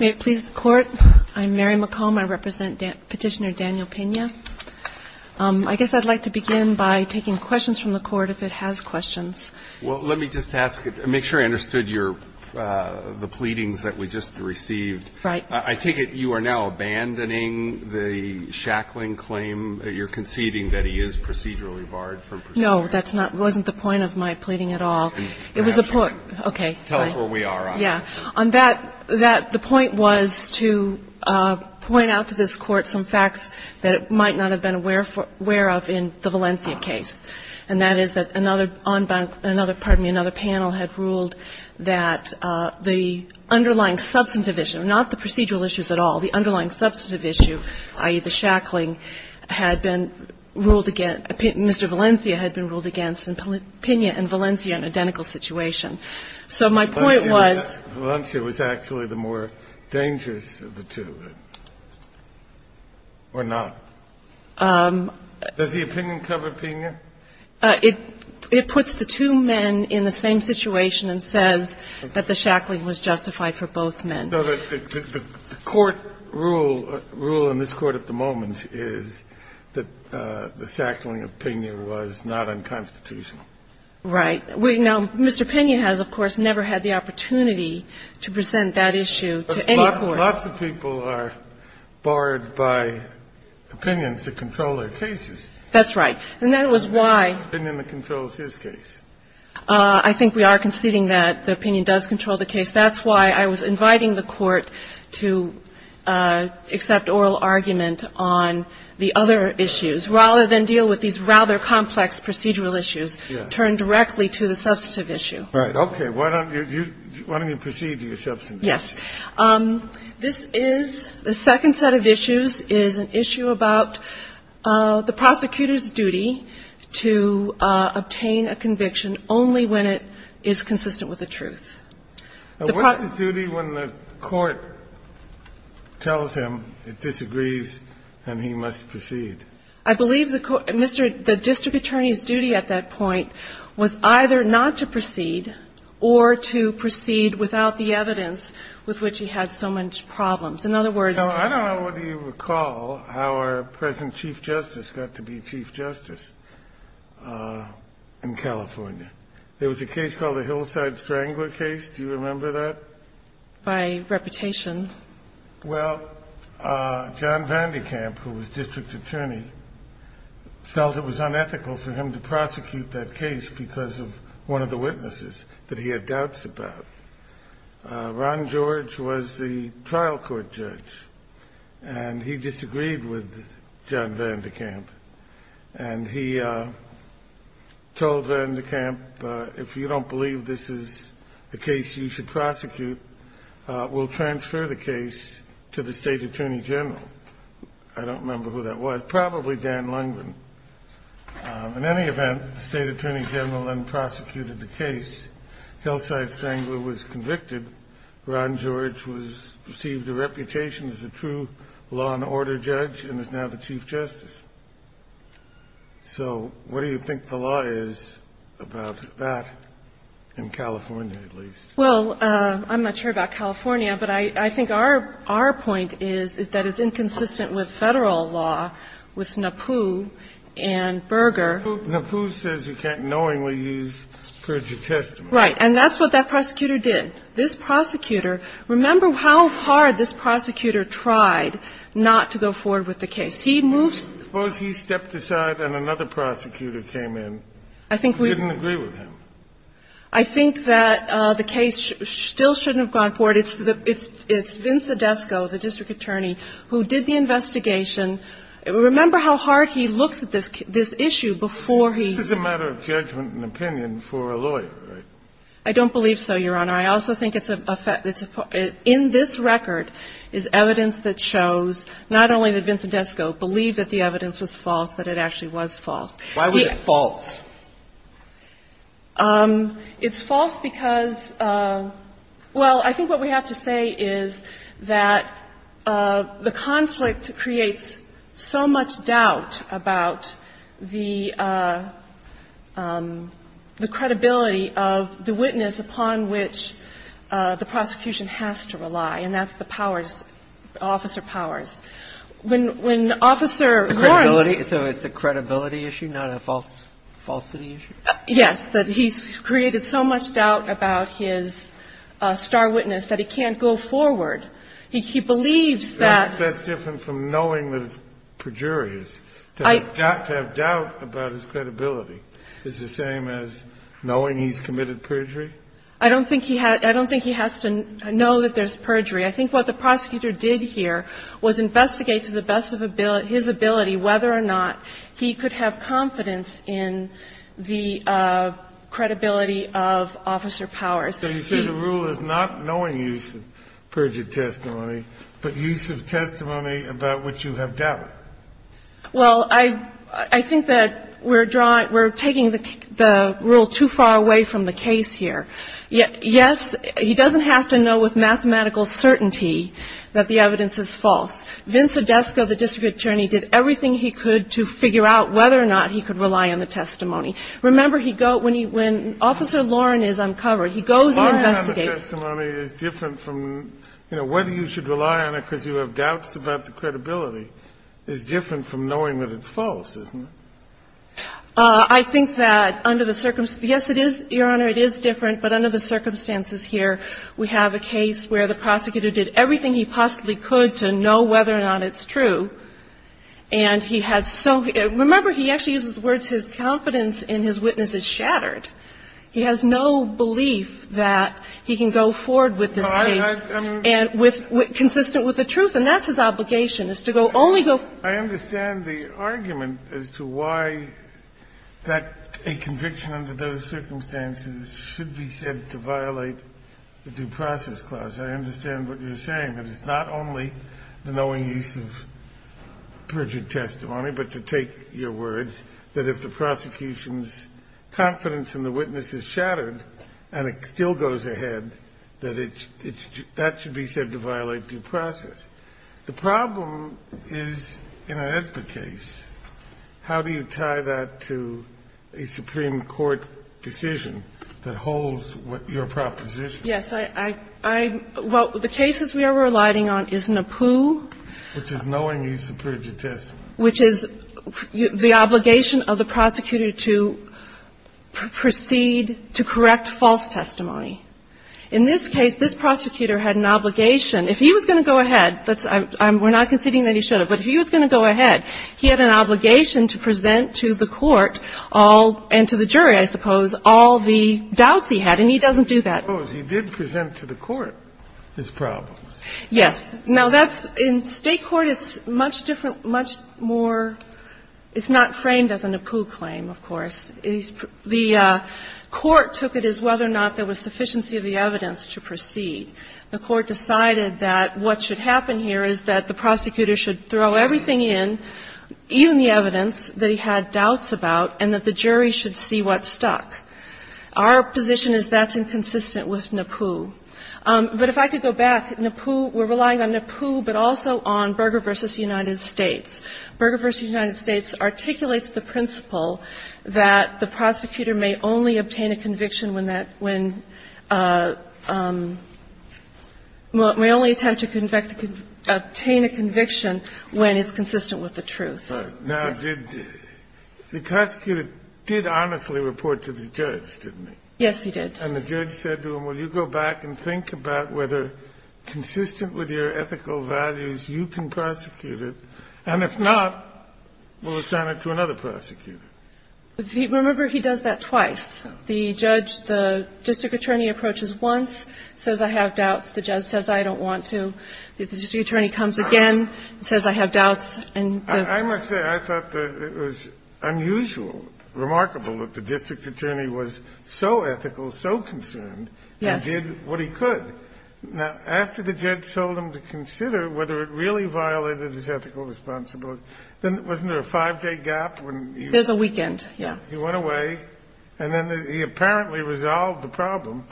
May it please the Court, I'm Mary McComb. I represent Petitioner Daniel Pina. I guess I'd like to begin by taking questions from the Court if it has questions. Well, let me just ask, make sure I understood your, the pleadings that we just received. Right. I take it you are now abandoning the Shackling claim that you're conceding that he is procedurally barred from proceeding? No, that's not, wasn't the point of my pleading at all. It was a point, okay. Tell us where we are on that. Yeah. On that, the point was to point out to this Court some facts that it might not have been aware of in the Valencia case, and that is that another, pardon me, another panel had ruled that the underlying substantive issue, not the procedural issues at all, the underlying substantive issue, i.e., the Shackling, had been ruled against, Mr. Valencia had been ruled against, and Pina and Valencia are in an identical situation. So my point was the two. Valencia was actually the more dangerous of the two, or not? Does the opinion cover Pina? It puts the two men in the same situation and says that the Shackling was justified for both men. So the court rule, rule in this Court at the moment is that the Shackling opinion was not unconstitutional. Right. Now, Mr. Pina has, of course, never had the opportunity to present that issue to any court. But lots of people are barred by opinions that control their cases. That's right. And that was why the opinion that controls his case. I think we are conceding that the opinion does control the case. That's why I was inviting the Court to accept oral argument on the other issues rather than deal with these rather complex procedural issues, turn directly to the substantive issue. Right. Okay. Why don't you proceed to your substantive issue? Yes. This is the second set of issues is an issue about the prosecutor's duty to obtain a conviction only when it is consistent with the truth. What's the duty when the court tells him it disagrees and he must proceed? I believe the district attorney's duty at that point was either not to proceed or to proceed without the evidence with which he had so much problems. In other words ---- Well, I don't know whether you recall how our present Chief Justice got to be Chief Justice in California. There was a case called the Hillside Strangler case. Do you remember that? By reputation. Well, John Van de Kamp, who was district attorney, felt it was unethical for him to prosecute that case because of one of the witnesses that he had doubts about. Ron George was the trial court judge, and he disagreed with John Van de Kamp. And he told Van de Kamp, if you don't believe this is a case you should prosecute, we'll transfer the case to the State Attorney General. I don't remember who that was. Probably Dan Lundgren. In any event, the State Attorney General then prosecuted the case. Hillside Strangler was convicted. Ron George was ---- received a reputation as a true law and order judge and is now the Chief Justice. Well, I'm not sure about California, but I think our point is that it's inconsistent with Federal law, with NAPU and Berger. NAPU says you can't knowingly use purgative testimony. Right. And that's what that prosecutor did. This prosecutor ---- remember how hard this prosecutor tried not to go forward with the case. He moved ---- Suppose he stepped aside and another prosecutor came in. I think we ---- Who didn't agree with him. I think that the case still shouldn't have gone forward. It's the ---- it's Vince Odesco, the district attorney, who did the investigation. Remember how hard he looks at this issue before he ---- This is a matter of judgment and opinion for a lawyer, right? I don't believe so, Your Honor. I also think it's a ---- in this record is evidence that shows not only that Vince Odesco believed that the evidence was false, that it actually was false. Why was it false? It's false because ---- well, I think what we have to say is that the conflict creates so much doubt about the credibility of the witness upon which the prosecution has to rely, and that's the powers, officer powers. When Officer Warren ---- So it's a credibility issue, not a falsity issue? Yes, that he's created so much doubt about his star witness that he can't go forward. He believes that ---- That's different from knowing that it's perjurious, that he's got to have doubt about his credibility. Is it the same as knowing he's committed perjury? I don't think he has to know that there's perjury. I think what the prosecutor did here was investigate to the best of his ability whether or not he could have confidence in the credibility of officer powers. He ---- So you said the rule is not knowing use of perjured testimony, but use of testimony about which you have doubt? Well, I think that we're drawing ---- we're taking the rule too far away from the case here. Yes, he doesn't have to know with mathematical certainty that the evidence is false. Vince Odesco, the district attorney, did everything he could to figure out whether or not he could rely on the testimony. Remember, he go ---- when he ---- when Officer Warren is uncovered, he goes and investigates ---- But relying on the testimony is different from, you know, whether you should rely on it because you have doubts about the credibility is different from knowing that it's false, isn't it? I think that under the circumstances ---- yes, it is, Your Honor, it is different. But under the circumstances here, we have a case where the prosecutor did everything he possibly could to know whether or not it's true, and he had so ---- remember, he actually uses the words, his confidence in his witness is shattered. He has no belief that he can go forward with this case and with ---- consistent with the truth, and that's his obligation, is to go only go ---- I understand the argument as to why that a conviction under those circumstances should be said to violate the due process clause. I understand what you're saying, that it's not only the knowing use of perjured testimony, but to take your words that if the prosecution's confidence in the witness is shattered and it still goes ahead, that it's ---- that should be said to violate due process. The problem is, in a HEDPA case, how do you tie that to a Supreme Court decision that holds your proposition? Yes. I ---- well, the cases we are relying on is NAPU. Which is knowing use of perjured testimony. Which is the obligation of the prosecutor to proceed to correct false testimony. In this case, this prosecutor had an obligation. If he was going to go ahead, that's ---- we're not conceding that he should have, but if he was going to go ahead, he had an obligation to present to the court all ---- and to the jury, I suppose, all the doubts he had, and he doesn't do that. He did present to the court his problems. Yes. Now, that's ---- in State court, it's much different, much more ---- it's not framed as a NAPU claim, of course. The court took it as whether or not there was sufficiency of the evidence to proceed. The court decided that what should happen here is that the prosecutor should throw everything in, even the evidence that he had doubts about, and that the jury should see what stuck. Our position is that's inconsistent with NAPU. But if I could go back, NAPU ---- we're relying on NAPU, but also on Berger v. United States. Berger v. United States articulates the principle that the prosecutor may only obtain a conviction when that ---- when ---- may only attempt to obtain a conviction when it's consistent with the truth. Now, did the prosecutor ---- did honestly report to the judge, didn't he? Yes, he did. And the judge said to him, well, you go back and think about whether, consistent with your ethical values, you can prosecute it. And if not, we'll assign it to another prosecutor. Remember, he does that twice. The judge ---- the district attorney approaches once, says, I have doubts. The judge says, I don't want to. The district attorney comes again and says, I have doubts. And the ---- I must say, I thought that it was unusual, remarkable, that the district attorney was so ethical, so concerned, and did what he could. Yes. Now, after the judge told him to consider whether it really violated his ethical responsibility, then wasn't there a 5-day gap when he ---- There's a weekend, yes. He went away, and then he apparently resolved the problem.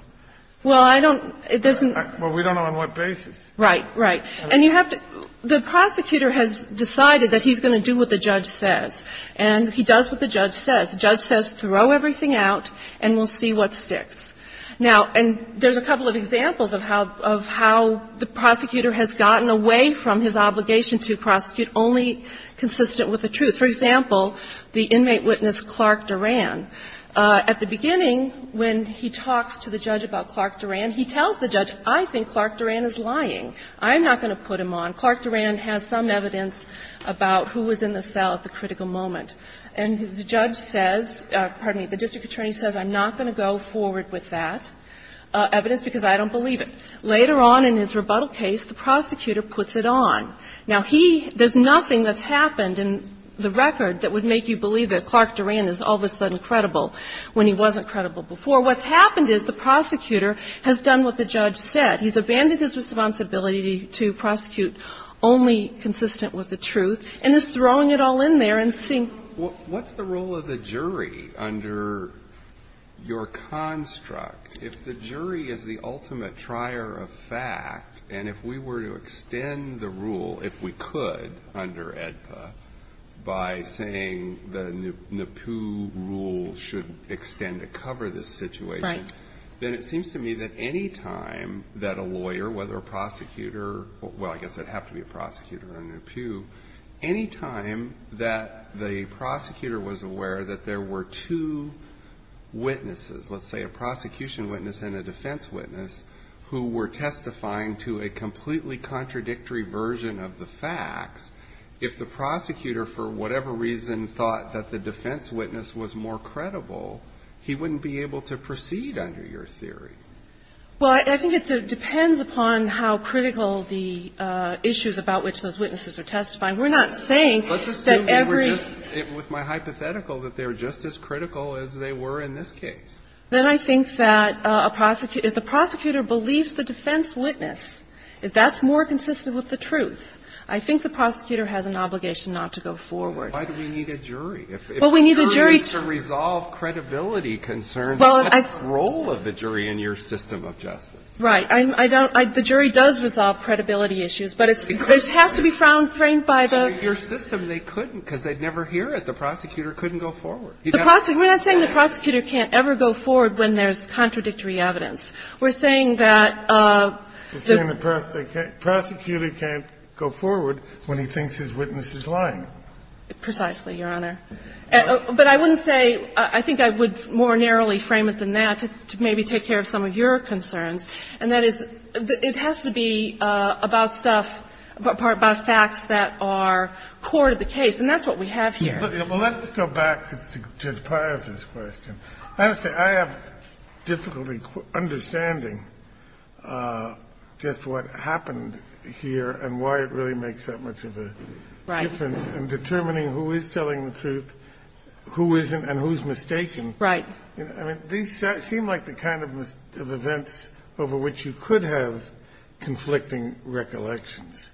Well, I don't ---- it doesn't ---- Well, we don't know on what basis. Right, right. And you have to ---- the prosecutor has decided that he's going to do what the judge says, and he does what the judge says. The judge says, throw everything out, and we'll see what sticks. Now, and there's a couple of examples of how the prosecutor has gotten away from his obligation to prosecute only consistent with the truth. For example, the inmate witness, Clark Duran. At the beginning, when he talks to the judge about Clark Duran, he tells the judge, I think Clark Duran is lying. I'm not going to put him on. Clark Duran has some evidence about who was in the cell at the critical moment. And the judge says ---- pardon me, the district attorney says, I'm not going to go forward with that evidence because I don't believe it. Later on in his rebuttal case, the prosecutor puts it on. Now, he ---- there's nothing that's happened in the record that would make you believe that Clark Duran is all of a sudden credible when he wasn't credible before. What's happened is the prosecutor has done what the judge said. He's abandoned his responsibility to prosecute only consistent with the truth and is throwing it all in there and seeing what's the role of the jury under your construct. If the jury is the ultimate trier of fact, and if we were to extend the rule, if we could, under AEDPA, by saying the NEPU rule should extend to cover this situation, then it seems to me that any time that a lawyer, whether a prosecutor, well, I guess it'd have to be a prosecutor or a NEPU, any time that the prosecutor was aware that there were two witnesses, let's say a prosecution witness and a defense witness, who were testifying to a completely contradictory version of the facts, if the prosecutor for whatever reason thought that the defense witness was more credible, he wouldn't be able to proceed under your theory. Well, I think it depends upon how critical the issues about which those witnesses are testifying. We're not saying that every ---- Let's assume that we're just ---- with my hypothetical that they're just as critical as they were in this case. Then I think that a prosecutor ---- if the prosecutor believes the defense witness, if that's more consistent with the truth, I think the prosecutor has an obligation not to go forward. Why do we need a jury? Well, we need a jury to ---- If a jury is to resolve credibility concerns, what's the role of the jury in your system of justice? Right. I don't ---- the jury does resolve credibility issues, but it has to be framed by the ---- Your system, they couldn't, because they'd never hear it. The prosecutor couldn't go forward. The prosecutor ---- we're not saying the prosecutor can't ever go forward when there's contradictory evidence. You're saying the prosecutor can't go forward when he thinks his witness is lying. Precisely, Your Honor. But I wouldn't say ---- I think I would more narrowly frame it than that to maybe take care of some of your concerns. And that is, it has to be about stuff ---- about facts that are core to the case. And that's what we have here. Well, let's go back to the Pius's question. Honestly, I have difficulty understanding just what happened here and why it really makes that much of a difference. Right. And determining who is telling the truth, who isn't, and who's mistaken. Right. I mean, these seem like the kind of events over which you could have conflicting recollections.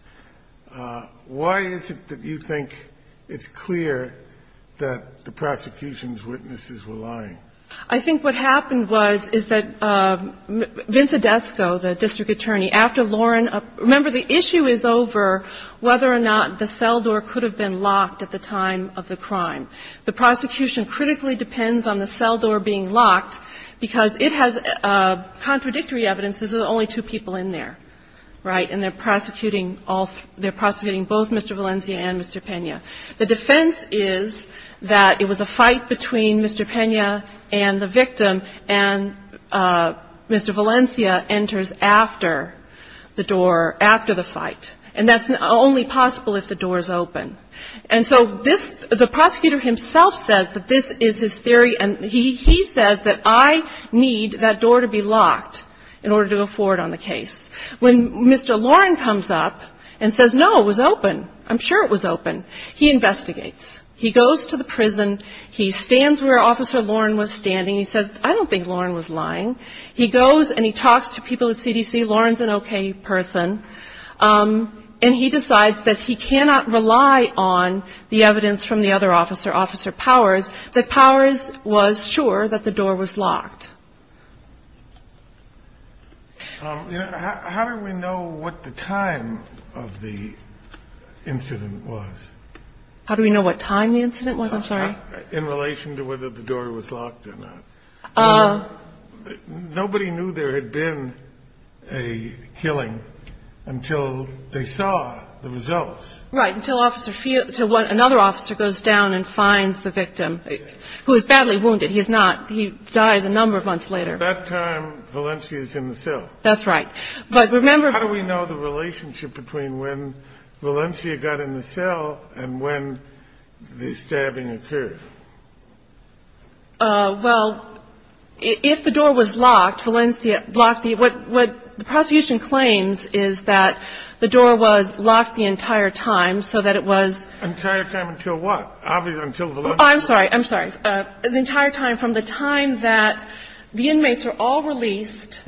Why is it that you think it's clear that the prosecution's witnesses were lying? I think what happened was, is that Vince Odesco, the district attorney, after Lauren ---- remember, the issue is over whether or not the cell door could have been locked at the time of the crime. The prosecution critically depends on the cell door being locked, because it has contradictory evidence that there's only two people in there. Right. And they're prosecuting all ---- they're prosecuting both Mr. Valencia and Mr. Pena. The defense is that it was a fight between Mr. Pena and the victim, and Mr. Valencia enters after the door, after the fight. And that's only possible if the door is open. And so this ---- the prosecutor himself says that this is his theory, and he says that I need that door to be locked in order to go forward on the case. When Mr. Lauren comes up and says, no, it was open, I'm sure it was open, he investigates. He goes to the prison. He stands where Officer Lauren was standing. He says, I don't think Lauren was lying. He goes and he talks to people at CDC. Lauren's an okay person. And he decides that he cannot rely on the evidence from the other officer, Officer Powers, that Powers was sure that the door was locked. How do we know what the time of the incident was? How do we know what time the incident was? I'm sorry. In relation to whether the door was locked or not. Nobody knew there had been a killing until they saw the results. Right. Until another officer goes down and finds the victim, who is badly wounded. He's not. He dies a number of months later. At that time, Valencia is in the cell. That's right. But remember ---- How do we know the relationship between when Valencia got in the cell and when the stabbing occurred? Well, if the door was locked, Valencia locked the ---- what the prosecution claims is that the door was locked the entire time so that it was ---- Entire time until what? Until Valencia was in the cell? I'm sorry. I'm sorry. The entire time from the time that the inmates are all released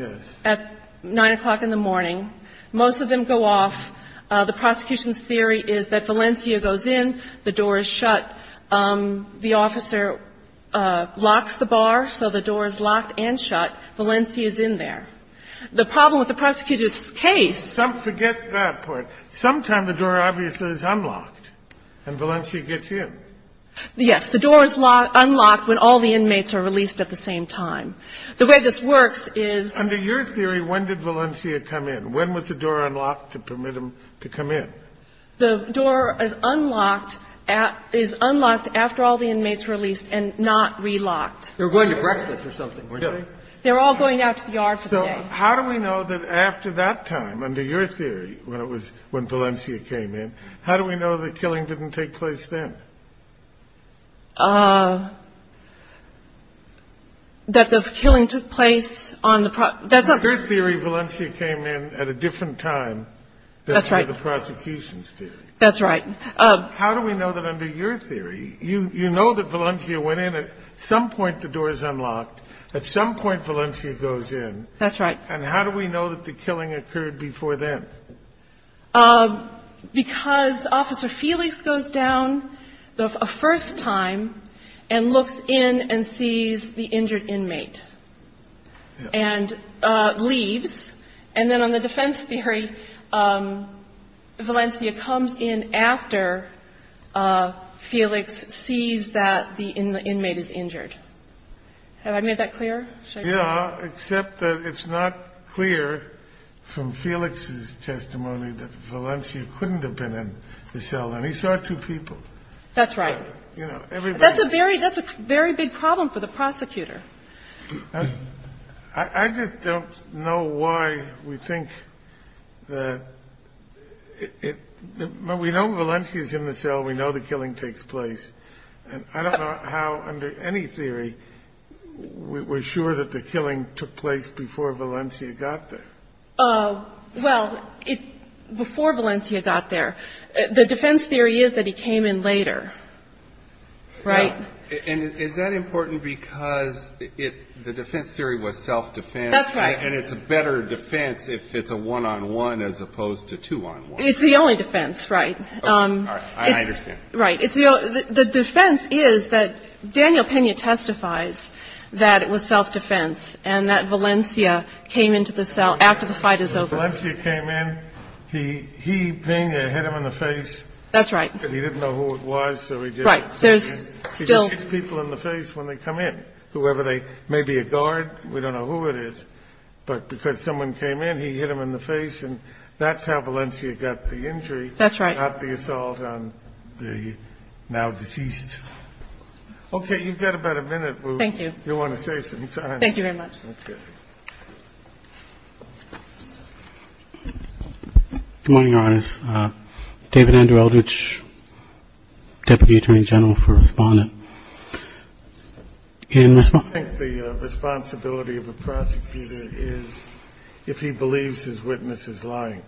at 9 o'clock in the morning, most of them go off, the prosecution's theory is that Valencia goes in, the officer locks the bar so the door is locked and shut, Valencia is in there. The problem with the prosecutor's case ---- Forget that part. Sometime the door obviously is unlocked and Valencia gets in. Yes. The door is unlocked when all the inmates are released at the same time. The way this works is ---- Under your theory, when did Valencia come in? When was the door unlocked to permit him to come in? The door is unlocked after all the inmates are released and not relocked. They were going to breakfast or something, weren't they? They were all going out to the yard for the day. So how do we know that after that time, under your theory, when it was when Valencia came in, how do we know the killing didn't take place then? That the killing took place on the ---- Under your theory, Valencia came in at a different time than for the prosecution. That's right. How do we know that under your theory, you know that Valencia went in at some point the door is unlocked, at some point Valencia goes in. That's right. And how do we know that the killing occurred before then? Because Officer Felix goes down the first time and looks in and sees the injured Valencia comes in after Felix sees that the inmate is injured. Have I made that clear? Yeah, except that it's not clear from Felix's testimony that Valencia couldn't have been in the cell and he saw two people. That's right. That's a very big problem for the prosecutor. I just don't know why we think that we know Valencia is in the cell, we know the killing takes place, and I don't know how under any theory we're sure that the killing took place before Valencia got there. Well, before Valencia got there, the defense theory is that he came in later, right? And is that important because the defense theory was self-defense? That's right. And it's a better defense if it's a one-on-one as opposed to two-on-one. It's the only defense, right. All right, I understand. Right. The defense is that Daniel Pena testifies that it was self-defense and that Valencia came into the cell after the fight is over. When Valencia came in, he pinged and hit him in the face. That's right. Because he didn't know who it was, so he didn't. Right. He just hits people in the face when they come in, whoever they, maybe a guard, we don't know who it is. But because someone came in, he hit him in the face, and that's how Valencia got the injury, not the assault on the now deceased. Okay, you've got about a minute. Thank you. You'll want to save some time. Thank you very much. Okay. Good morning, Your Honor. My name is David Andrew Eldridge, Deputy Attorney General for Respondent. And Ms. Martin? I think the responsibility of a prosecutor is if he believes his witness is lying.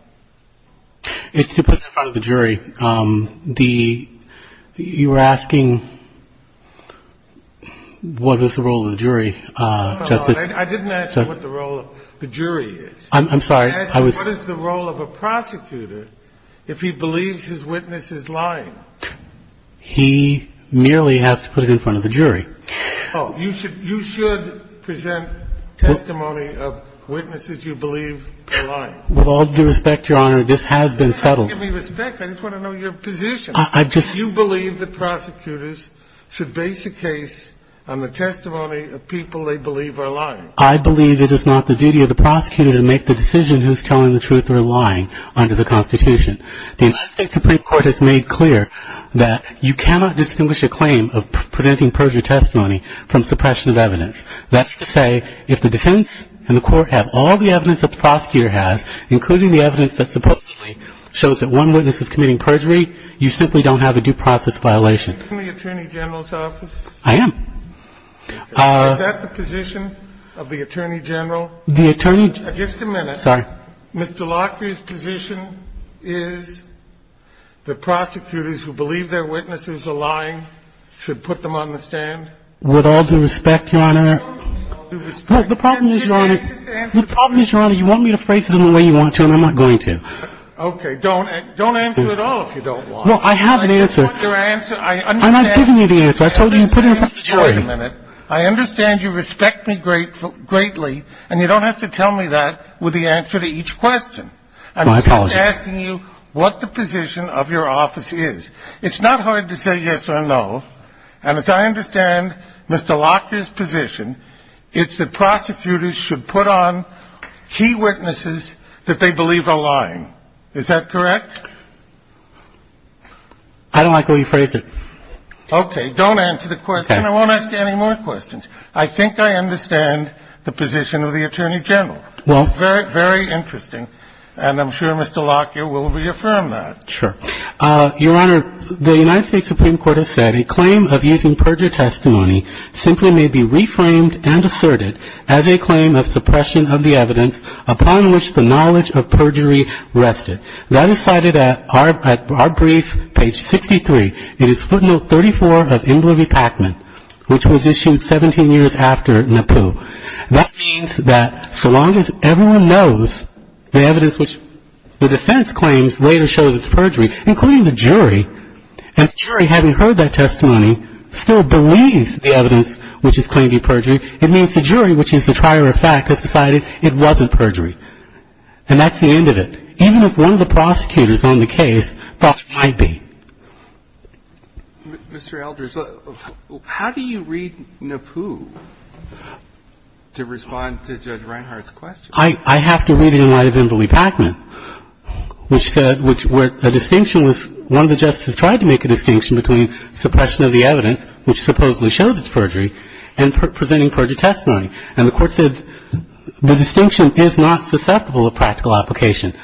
It's to put that in front of the jury. The you were asking what is the role of the jury, Justice? I didn't ask what the role of the jury is. I'm sorry. I was asking what is the role of a prosecutor if he believes his witness is lying? He merely has to put it in front of the jury. Oh, you should present testimony of witnesses you believe are lying. With all due respect, Your Honor, this has been settled. Give me respect. I just want to know your position. I just. Do you believe that prosecutors should base a case on the testimony of people they believe are lying? I believe it is not the duty of the prosecutor to make the decision who's telling the truth or lying under the Constitution. The United States Supreme Court has made clear that you cannot distinguish a claim of presenting perjury testimony from suppression of evidence. That's to say, if the defense and the court have all the evidence that the prosecutor has, including the evidence that supposedly shows that one witness is committing perjury, you simply don't have a due process violation. Are you in the Attorney General's office? I am. Is that the position of the Attorney General? The Attorney. Just a minute. Sorry. Mr. Lockrie's position is the prosecutors who believe their witnesses are lying should put them on the stand? With all due respect, Your Honor. With all due respect. The problem is, Your Honor. The problem is, Your Honor, you want me to phrase it in the way you want to, and I'm not going to. Okay. Don't answer at all if you don't want to. Well, I have an answer. I want your answer. I understand. I'm not giving you the answer. I told you to put it in the back of the tray. Wait a minute. I understand you respect me greatly, and you don't have to tell me that with the answer to each question. I'm just asking you what the position of your office is. It's not hard to say yes or no, and as I understand Mr. Lockrie's position, it's that prosecutors should put on key witnesses that they believe are lying. Is that correct? I don't like the way you phrased it. Okay. Don't answer the question, and I won't ask you any more questions. I think I understand the position of the Attorney General. Well It's very, very interesting, and I'm sure Mr. Lockrie will reaffirm that. Sure. Your Honor, the United States Supreme Court has said a claim of using perjury testimony simply may be reframed and asserted as a claim of suppression of the evidence upon which the knowledge of perjury rested. That is cited at our brief, page 63. It is footnote 34 of Imler v. Pacman, which was issued 17 years after Napoo. That means that so long as everyone knows the evidence which the defense claims later shows it's perjury, including the jury, and the jury having heard that testimony still believes the evidence which is claimed to be perjury, it means the jury, which is the trier of fact, has decided it wasn't perjury. And that's the end of it. Even if one of the prosecutors on the case thought it might be. Mr. Eldridge, how do you read Napoo to respond to Judge Reinhardt's question? I have to read it in light of Imler v. Pacman, which said a distinction was one of the justices tried to make a distinction between suppression of the evidence, which supposedly shows it's perjury, and presenting perjury testimony. And the Court said the distinction is not susceptible of practical application.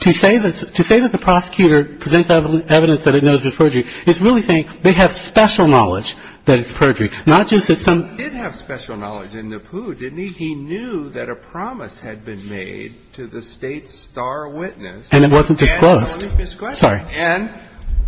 To say that the prosecutor presents evidence that it knows it's perjury is really saying they have special knowledge that it's perjury, not just that some of them. He did have special knowledge in Napoo, didn't he? He knew that a promise had been made to the State's star witness. And it wasn't disclosed. And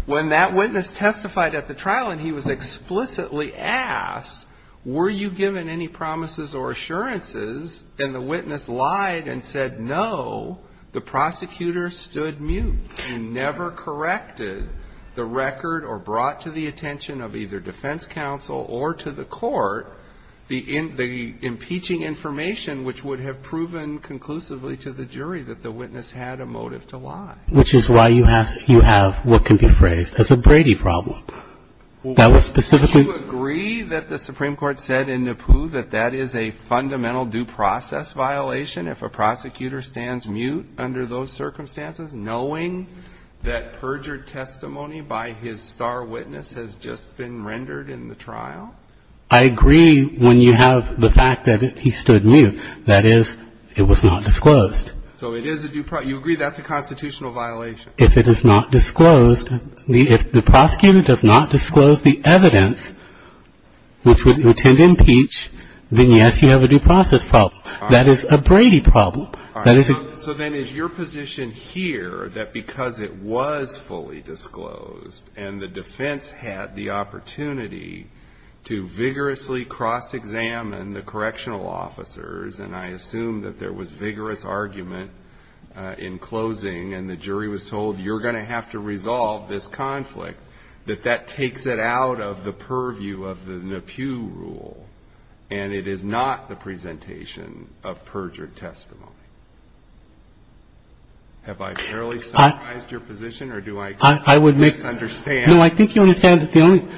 when that witness testified at the trial and he was explicitly asked, were you given any promises or assurances, and the witness lied and said, no, the prosecutor stood mute and never corrected the record or brought to the attention of either defense counsel or to the Court the impeaching information which would have proven conclusively to the jury that the witness had a motive to lie. Which is why you have what can be phrased as a Brady problem. That was specifically the case. Would you agree that the Supreme Court said in Napoo that that is a fundamental due process violation if a prosecutor stands mute under those circumstances, knowing that perjured testimony by his star witness has just been rendered in the trial? I agree when you have the fact that he stood mute. That is, it was not disclosed. So it is a due process. You agree that's a constitutional violation? If it is not disclosed, if the prosecutor does not disclose the evidence which would then, yes, you have a due process problem. That is a Brady problem. That is a ---- So then is your position here that because it was fully disclosed and the defense had the opportunity to vigorously cross-examine the correctional officers, and I assume that there was vigorous argument in closing and the jury was told you're going to have to resolve this conflict, that that takes it out of the purview of the Napoo rule and it is not the presentation of perjured testimony? Have I fairly summarized your position or do I misunderstand? No, I think you understand that the only ----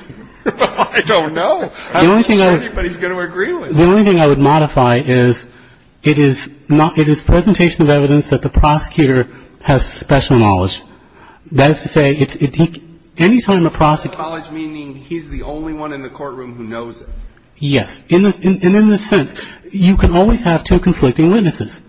I don't know. I'm not sure anybody's going to agree with me. The only thing I would modify is it is presentation of evidence that the prosecutor has special knowledge. That is to say, any time a prosecutor ---- Special knowledge meaning he's the only one in the courtroom who knows it. Yes. And in this sense, you can always have two conflicting witnesses.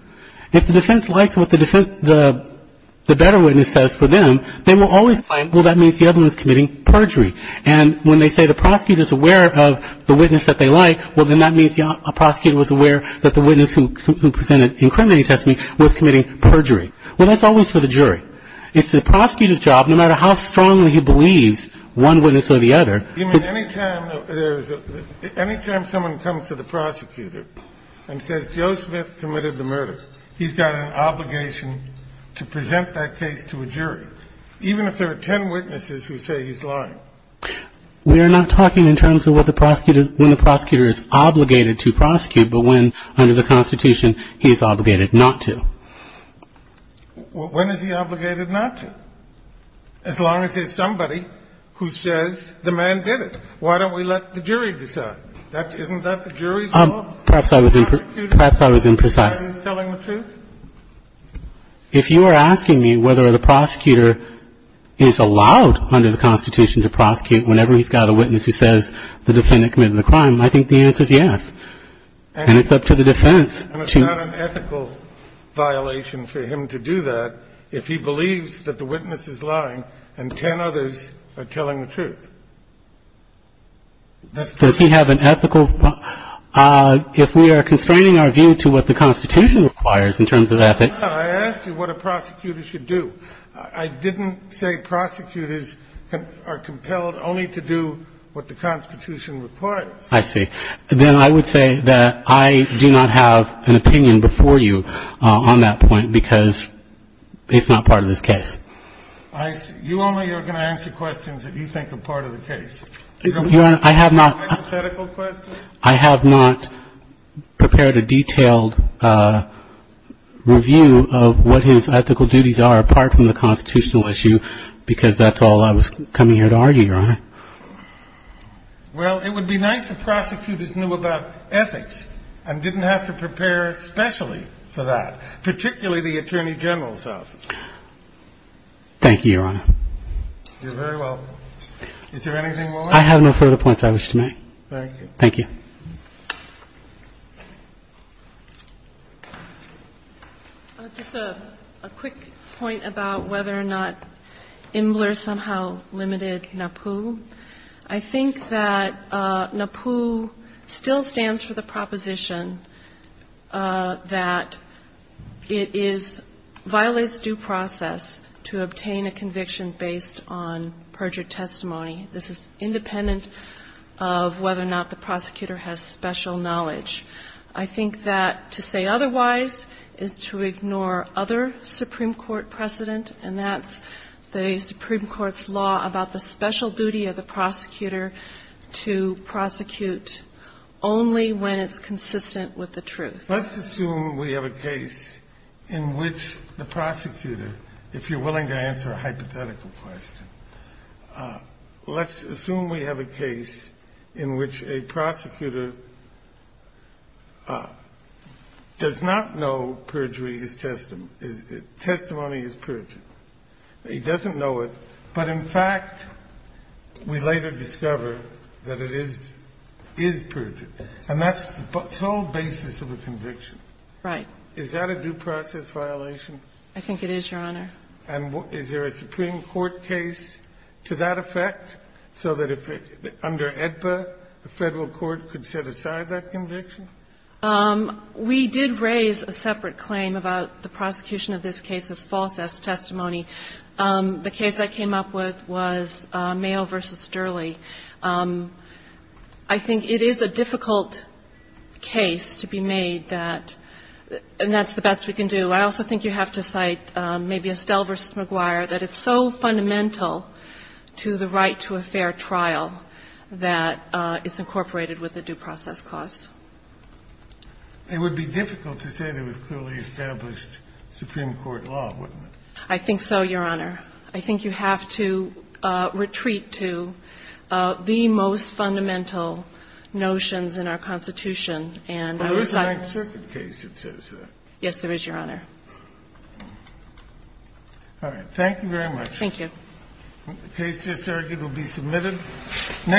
If the defense likes what the defense, the better witness says for them, they will always claim, well, that means the other one is committing perjury. And when they say the prosecutor is aware of the witness that they like, well, then that means a prosecutor was aware that the witness who presented incriminating testimony was committing perjury. Well, that's always for the jury. It's the prosecutor's job, no matter how strongly he believes one witness or the other ---- You mean any time there's a ---- Any time someone comes to the prosecutor and says Joe Smith committed the murder, he's got an obligation to present that case to a jury, even if there are ten witnesses who say he's lying? We're not talking in terms of what the prosecutor ---- when the prosecutor is obligated to prosecute, but when under the Constitution he's obligated not to. When is he obligated not to? As long as there's somebody who says the man did it. Why don't we let the jury decide? Isn't that the jury's job? Perhaps I was imprecise. If you are asking me whether the prosecutor is allowed under the Constitution to prosecute whenever he's got a witness who says the defendant committed the crime, I think the answer is yes. And it's up to the defense to ---- It's not an ethical violation for him to do that if he believes that the witness is lying and ten others are telling the truth. Does he have an ethical ---- If we are constraining our view to what the Constitution requires in terms of ethics No, I asked you what a prosecutor should do. I didn't say prosecutors are compelled only to do what the Constitution requires. I see. Then I would say that I do not have an opinion before you on that point because it's not part of this case. You only are going to answer questions that you think are part of the case. I have not prepared a detailed review of what his ethical duties are apart from the constitutional issue because that's all I was coming here to argue, Your Honor. Well, it would be nice if prosecutors knew about ethics and didn't have to prepare specially for that, particularly the Attorney General's office. Thank you, Your Honor. You're very welcome. Is there anything more? I have no further points I wish to make. Thank you. Thank you. Just a quick point about whether or not Imler somehow limited NAPU. I think that NAPU still stands for the proposition that it is – violates due process to obtain a conviction based on perjured testimony. This is independent of whether or not the prosecutor has special knowledge. I think that to say otherwise is to ignore other Supreme Court precedent, and that's the Supreme Court's law about the special duty of the prosecutor to prosecute only when it's consistent with the truth. Let's assume we have a case in which the prosecutor, if you're willing to answer a hypothetical question, let's assume we have a case in which a prosecutor does not know perjury is – testimony is perjured. He doesn't know it, but in fact, we later discover that it is – is perjured. And that's the sole basis of a conviction. Right. Is that a due process violation? I think it is, Your Honor. And is there a Supreme Court case to that effect, so that if it – under AEDPA, the Federal court could set aside that conviction? We did raise a separate claim about the prosecution of this case as false testimony. The case I came up with was Mayo v. Durley. I think it is a difficult case to be made that – and that's the best we can do. I also think you have to cite maybe Estelle v. McGuire, that it's so fundamental to the right to a fair trial that it's incorporated with a due process clause. It would be difficult to say there was clearly established Supreme Court law, wouldn't it? I think so, Your Honor. I think you have to retreat to the most fundamental notions in our Constitution and I would cite them. Well, there's a Ninth Circuit case that says that. Yes, there is, Your Honor. All right. Thank you very much. Thank you. The case just argued will be submitted.